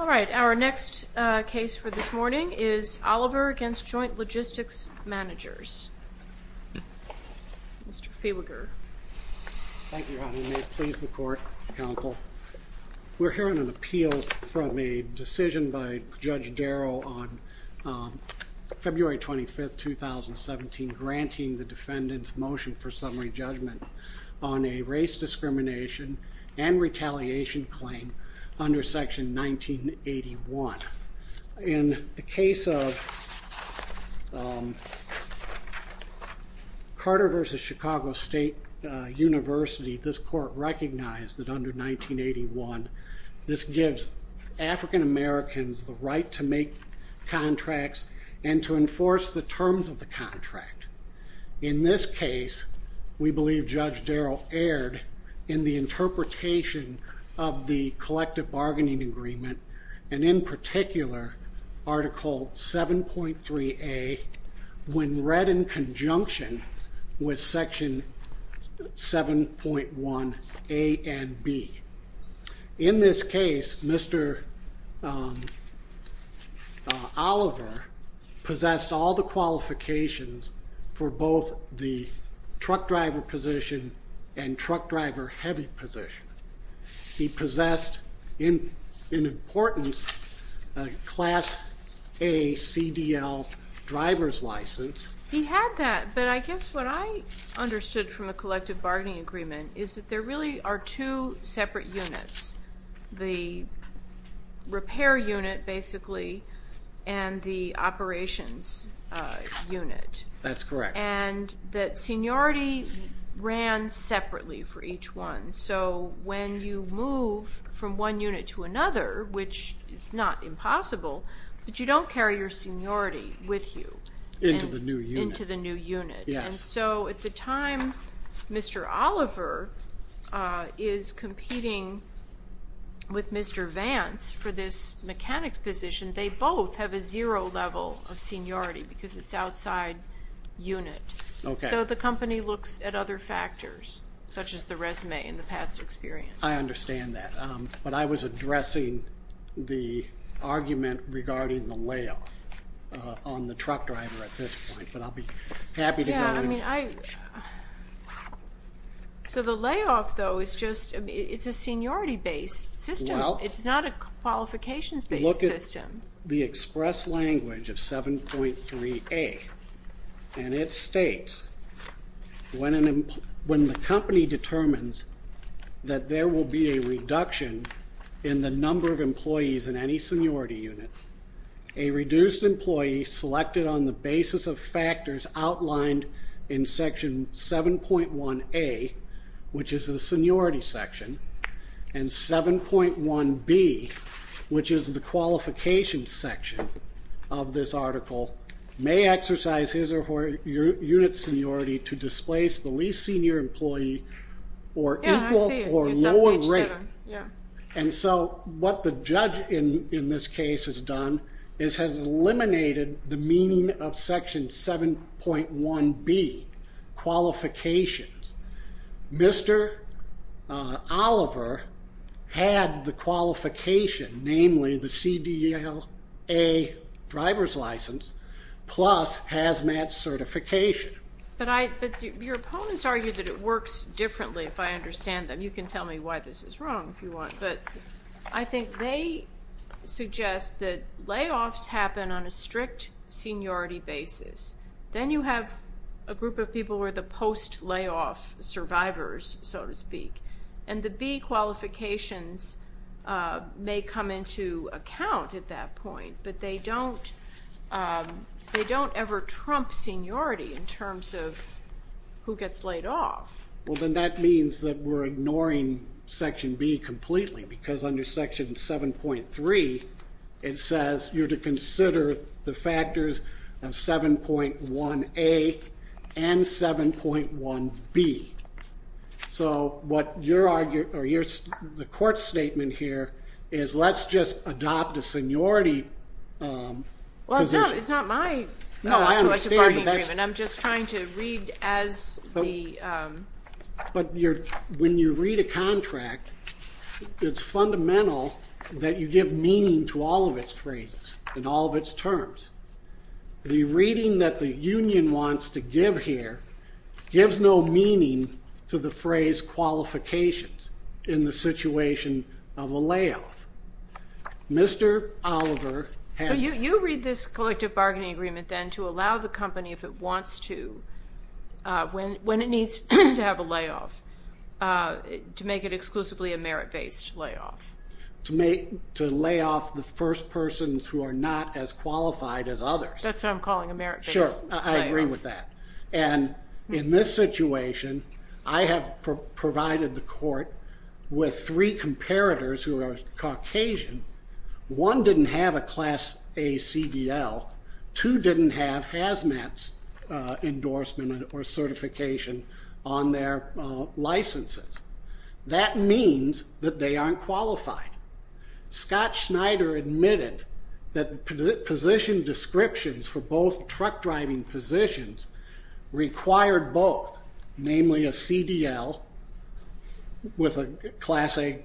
All right, our next case for this morning is Oliver v. Joint Logistics Managers. Mr. Fehwiger. Thank you, Your Honor, and may it please the Court, Counsel. We're hearing an 2017, granting the defendant's motion for summary judgment on a race discrimination and retaliation claim under Section 1981. In the case of Carter v. Chicago State University, this Court recognized that under 1981, this gives African Americans the right to make the terms of the contract. In this case, we believe Judge Darrell erred in the interpretation of the collective bargaining agreement, and in particular, Article 7.3a, when read in he possessed in importance, a class A CDL license. He had that, but I guess what I understood from the collective bargaining agreement, is that there really are two separate units, the repair unit, basically. And the operations are a separate unit, Let me apologize. Is it That's correct. And that seniority ran separately for each one. So when you move from one unit to another, which is not impossible, but you don't carry your seniority with you. Into the new unit. Into the new unit. Yes. And so at the time Mr. Oliver is competing with Mr. Vance for this mechanic's position, they both have a zero level of seniority, because it's outside unit. Okay. So the company looks at other factors, such as the resume and the past experience. I understand that. But I was addressing the argument regarding the layoff on the truck driver at this point, but I'll be happy to go in. Yeah, I mean, So the layoff, though, is just, it's a seniority based system. Well, it's not a qualifications based system. Look at the express language of 7.3a, and it states, when the company determines that there will be a reduction in the number of employees in any seniority unit, a reduced section 7.1a, which is the seniority section, and 7.1b, which is the qualification section of this article, may exercise his or her unit seniority to displace the least senior employee or equal or lower rate. And so what the judge in this case has done is has eliminated the qualifications. Mr. Oliver had the qualification, namely the CDLA driver's license, plus hazmat certification. But your opponents argue that it works differently, if I understand them. You can tell me why this is wrong if you want. But I think they suggest that layoffs happen on a strict seniority basis. Then you have a group of people who are the post-layoff survivors, so to speak, and the B qualifications may come into account at that point, but they don't ever trump seniority in terms of who gets laid off. Well, then that means that we're ignoring section B completely, because under section 7.3, it says you're to consider the factors of 7.1a and 7.1b. So the court's statement here is let's just adopt a seniority position. But when you read a contract, it's fundamental that you give meaning to all of its phrases and all of its terms. The reading that the union wants to give here gives no meaning to the phrase qualifications in the situation of a layoff. Mr. Oliver... So you read this collective bargaining agreement, then, to allow the company, if it wants to, when it needs to have a layoff, to make it exclusively a merit-based layoff. To lay off the first persons who are not as I have provided the court with three comparators who are Caucasian. One didn't have a class A CDL, two didn't have HAZMAT endorsement or certification on their licenses. That means that they aren't qualified. Scott Schneider admitted that position descriptions for both truck driving positions required both, namely a CDL with a class A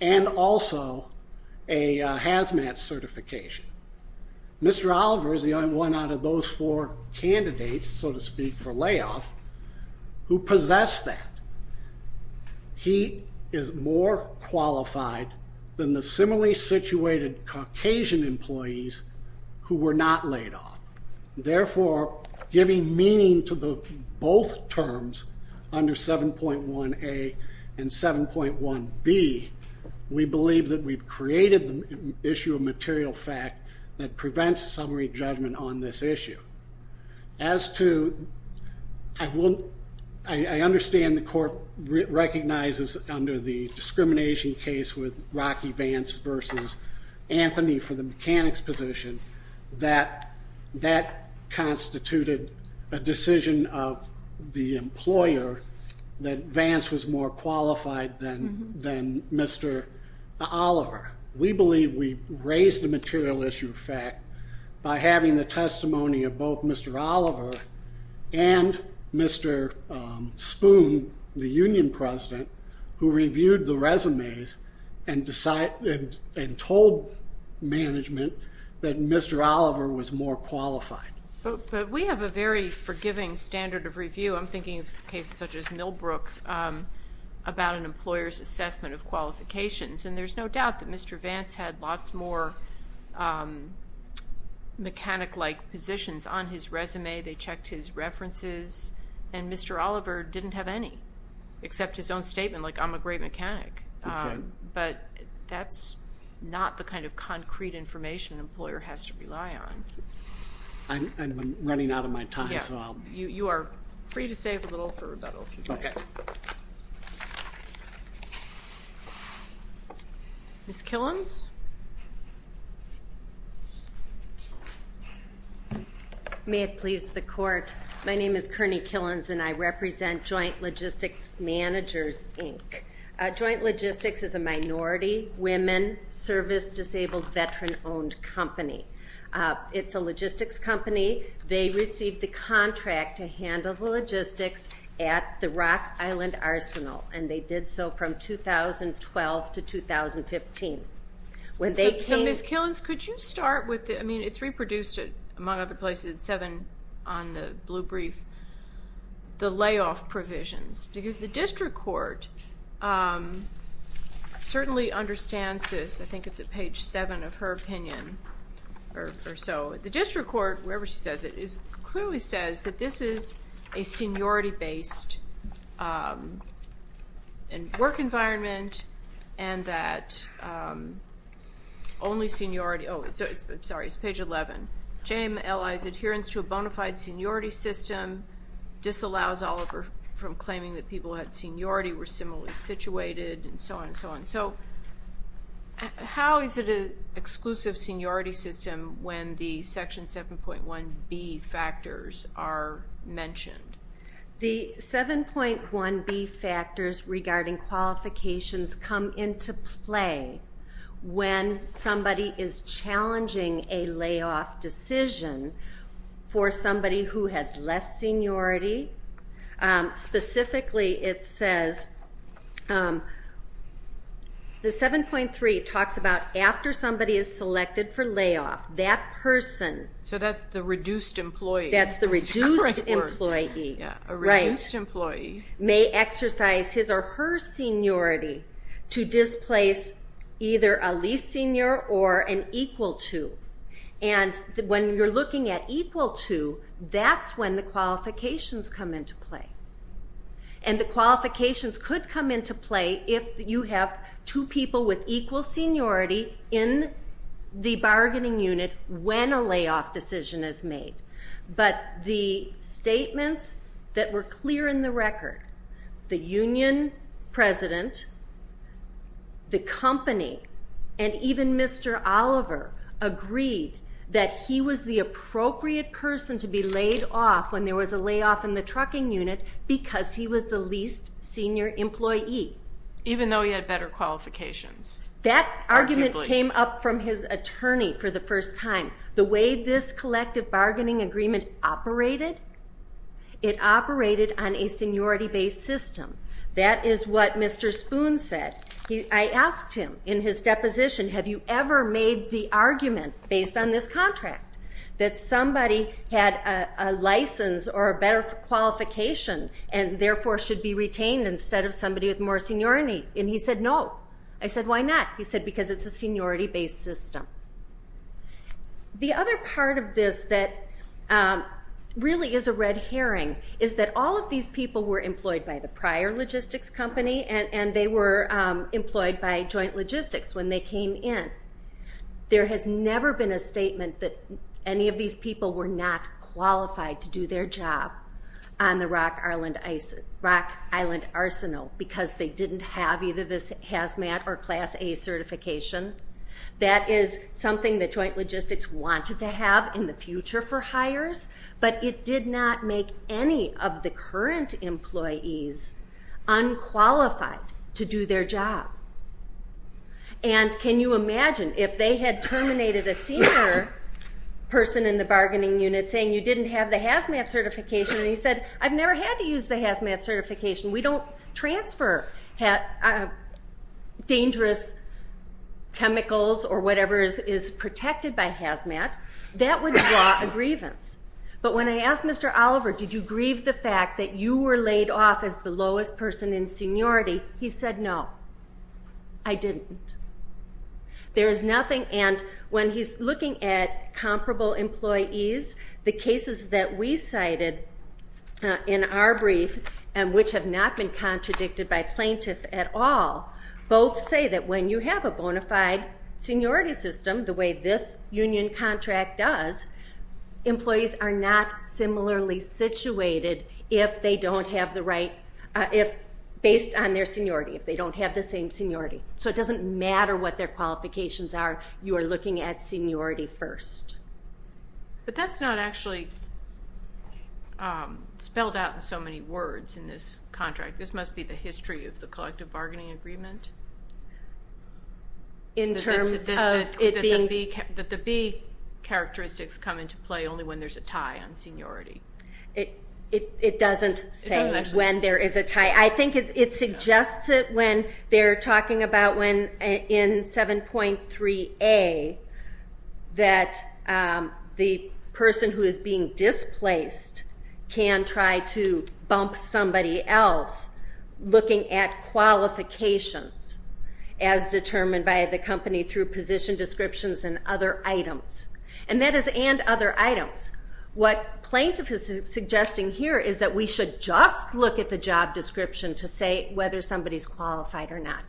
and also a HAZMAT certification. Mr. Oliver is the only one out of those four candidates, so to speak, for layoff who possessed that. He is more giving meaning to both terms under 7.1A and 7.1B. We believe that we've created the issue of material fact that prevents summary judgment on this issue. As to... I understand the court recognizes under the discrimination case with Rocky Vance versus Anthony for the mechanics position that that constituted a decision of the employer that Vance was more qualified than Mr. Oliver. We believe we raised the material issue of fact by having the testimony of both Mr. Oliver and Mr. Spoon, the union president, who reviewed the resumes and told management that Mr. Oliver was more qualified. But we have a very forgiving standard of review. I'm thinking of cases such as Millbrook about an employer's assessment of qualifications, and there's no doubt that Mr. Vance had lots more mechanic-like positions on his resume. They checked his references, and Mr. Oliver didn't have any, except his own statement like, I'm a great mechanic. But that's not the kind of concrete information an employer has to rely on. I'm running out of my time, so I'll... You are free to save a little for rebuttal. Okay. Ms. Killins? May it please the court, my name is Kearney Killins, and I represent Joint Logistics Managers, Inc. Joint Logistics is a minority, women, service-disabled, veteran-owned company. It's a logistics company. They received the contract to handle the logistics at the Rock Island Arsenal, and they did so from 2012 to 2015. When they came... So Ms. Killins, could you start with... I mean, it's the district court certainly understands this. I think it's at page 7 of her opinion or so. The district court, wherever she says it, clearly says that this is a seniority-based work environment, and that only seniority... Oh, sorry, it's page 11. JMLI's adherence to a bona fide seniority system disallows Oliver from claiming that people at seniority were similarly situated, and so on and so on. So, how is it an exclusive seniority system when the Section 7.1b factors are mentioned? The 7.1b factors regarding qualifications come into play when somebody is challenging a layoff decision for somebody who has less seniority. Specifically, it says, the 7.3 talks about after somebody is selected for layoff, that person... So that's the reduced employee. That's the reduced employee, right, may exercise his or her seniority to displace either a least senior or an equal to. And when you're looking at equal to, that's when the qualifications come into play. And the qualifications could come into play if you have two people with equal seniority in the bargaining unit when a layoff decision is made. But the statements that were clear in the record, the union president, the company, and even Mr. Oliver agreed that he was the appropriate person to be laid off when there was a layoff in the trucking unit because he was the least senior employee. Even though he had better qualifications. That argument came up from his attorney for the first time. The way this collective bargaining agreement operated, it operated on a seniority based system. That is what Mr. Spoon said. I asked him in his deposition, have you ever made the argument based on this contract that somebody had a license or a better qualification and therefore should be retained instead of somebody with more seniority? And he said, no. I said, why not? He said, because it's a seniority based system. The other part of this that really is a red herring is that all of these people were employed by the prior logistics company and they were employed by joint logistics when they came in. There has never been a statement that any of these people were not qualified to do their job on the Rock Island Arsenal because they didn't have either this Hazmat or Class A certification. That is something that joint logistics wanted to have in the future for hires, but it did not make any of the current employees unqualified to do their job. And can you imagine if they had terminated a senior person in the bargaining unit saying you didn't have the Hazmat certification and he said, I've never had to use the Hazmat certification. We don't transfer dangerous chemicals or whatever is protected by Hazmat. That would draw a grievance. But when I asked Mr. Oliver, did you grieve the fact that you were laid off as the lowest person in our brief and which have not been contradicted by plaintiff at all, both say that when you have a bona fide seniority system, the way this union contract does, employees are not similarly situated if they don't have the right, if based on their seniority, if they don't have the same seniority. So it doesn't matter what their qualifications are. You are looking at seniority first. But that's not actually spelled out in so many words in this contract. This must be the history of the collective bargaining agreement. In terms of it being... That the B characteristics come into play only when there's a tie on seniority. It doesn't say when there is a tie. I think it suggests it when they're talking about when in 7.3A that the person who is being displaced can try to bump somebody else looking at qualifications as determined by the company through position descriptions and other items. And that is and other items. What plaintiff is suggesting here is that we should just look at the job description to say whether somebody's qualified or not.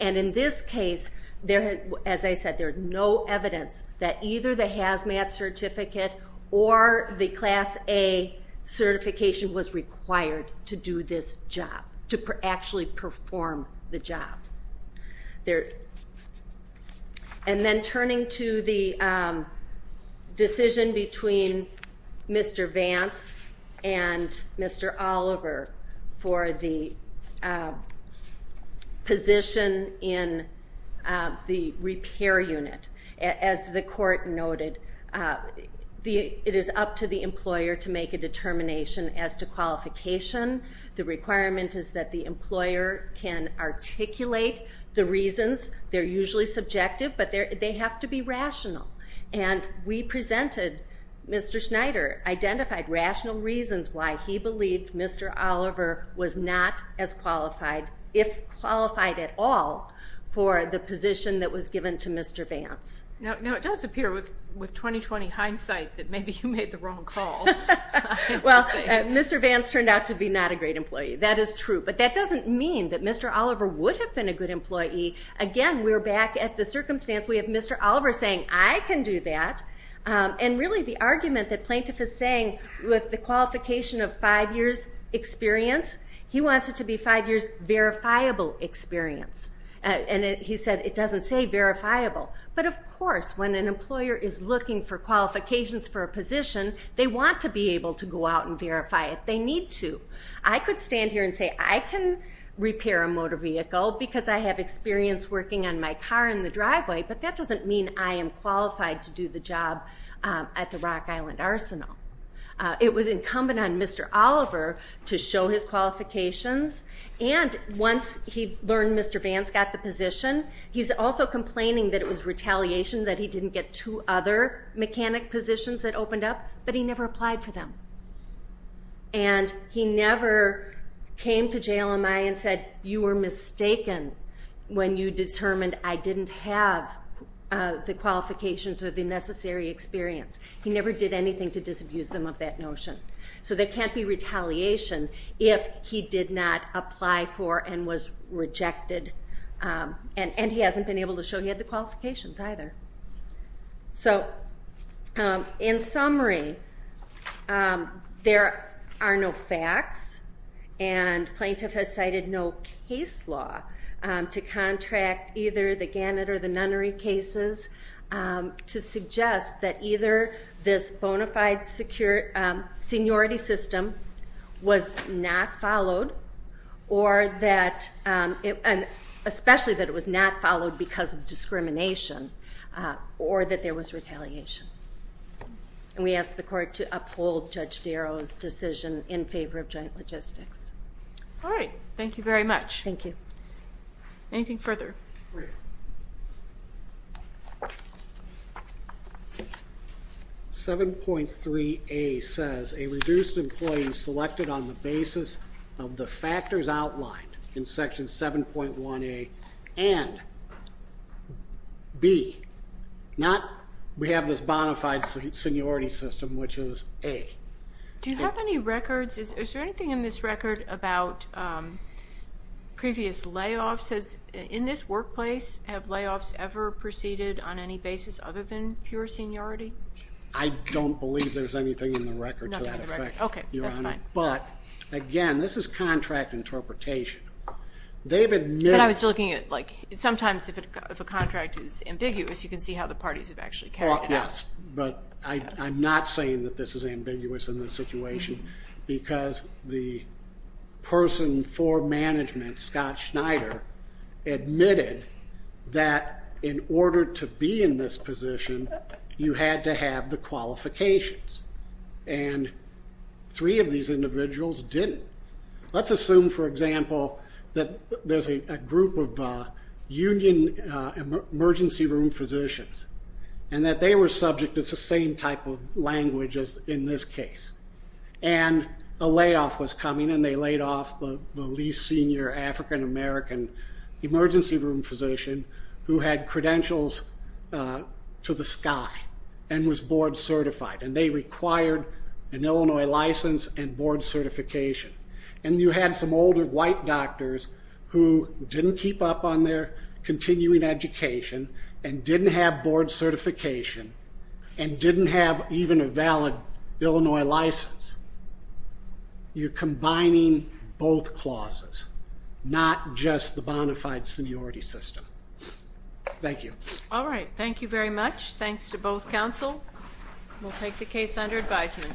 And in this case, as I said, there's no evidence that either the HAZMAT certificate or the Class A certification was required to do this job, to actually perform the job. And then turning to the decision between Mr. Vance and Mr. Oliver for the position in the repair unit. As the court noted, it is up to the employer to make a decision. The reasons, they're usually subjective, but they have to be rational. And we presented, Mr. Schneider identified rational reasons why he believed Mr. Oliver was not as qualified, if qualified at all, for the position that was given to Mr. Vance. Now, it does appear with 20-20 hindsight that maybe you made the wrong call. Well, Mr. Vance turned out to be not a great employee. That is true. But that doesn't mean that Mr. Oliver would have been a good employee. Again, we're back at the circumstance. We have Mr. Oliver saying, I can do that. And really the argument that plaintiff is saying with the qualification of five years experience, he wants it to be able to go out and verify it. They need to. I could stand here and say, I can repair a motor vehicle because I have experience working on my car in the driveway, but that doesn't mean I am qualified to do the job at the Rock Island Arsenal. It was incumbent on Mr. Oliver to show his qualifications. And once he learned Mr. Vance got the position, he's also complaining that it was wrong for them. And he never came to JLMI and said, you were mistaken when you determined I didn't have the qualifications or the necessary experience. He never did anything to disabuse them of that notion. So there can't be retaliation if he did not apply for and was rejected. And he hasn't been able to show he had the qualifications either. So in summary, there are no facts and plaintiff has cited no case law to contract either the Gannett or the Nunnery cases to suggest that either this bona fide seniority system was not followed or that, especially that it was not followed because of discrimination, or that there was retaliation. And we ask the court to uphold Judge Darrow's decision in favor of joint logistics. All right. Thank you very much. Thank you. Anything further? 7.3A says a reduced employee selected on the basis of the factors outlined in Section 7.1A and B, not we have this bona fide seniority system, which is A. Do you have any records? Is there anything in this record about previous layoffs? In this workplace, have layoffs ever proceeded on any basis other than pure seniority? I don't believe there's anything in the record to that effect, Your Honor. Okay. That's fine. But, again, this is contract interpretation. But I was looking at, like, sometimes if a contract is ambiguous, you can see how the parties have actually carried it out. Yes, but I'm not saying that this is ambiguous in this situation because the person for management, Scott Schneider, admitted that in order to be in this position, you had to have the qualifications. And three of these individuals didn't. Let's assume, for example, that there's a group of union emergency room physicians and that they were subject to the same type of language as in this case. And a layoff was coming, and they laid off the least senior African American emergency room physician who had credentials to the sky and was board certified. And they required an Illinois license and board certification. And you had some older white doctors who didn't keep up on their continuing education and didn't have board certification and didn't have even a valid Illinois license. You're combining both clauses, not just the bona fide seniority system. Thank you. All right. Thank you very much. Thanks to both counsel. We'll take the case under advisement.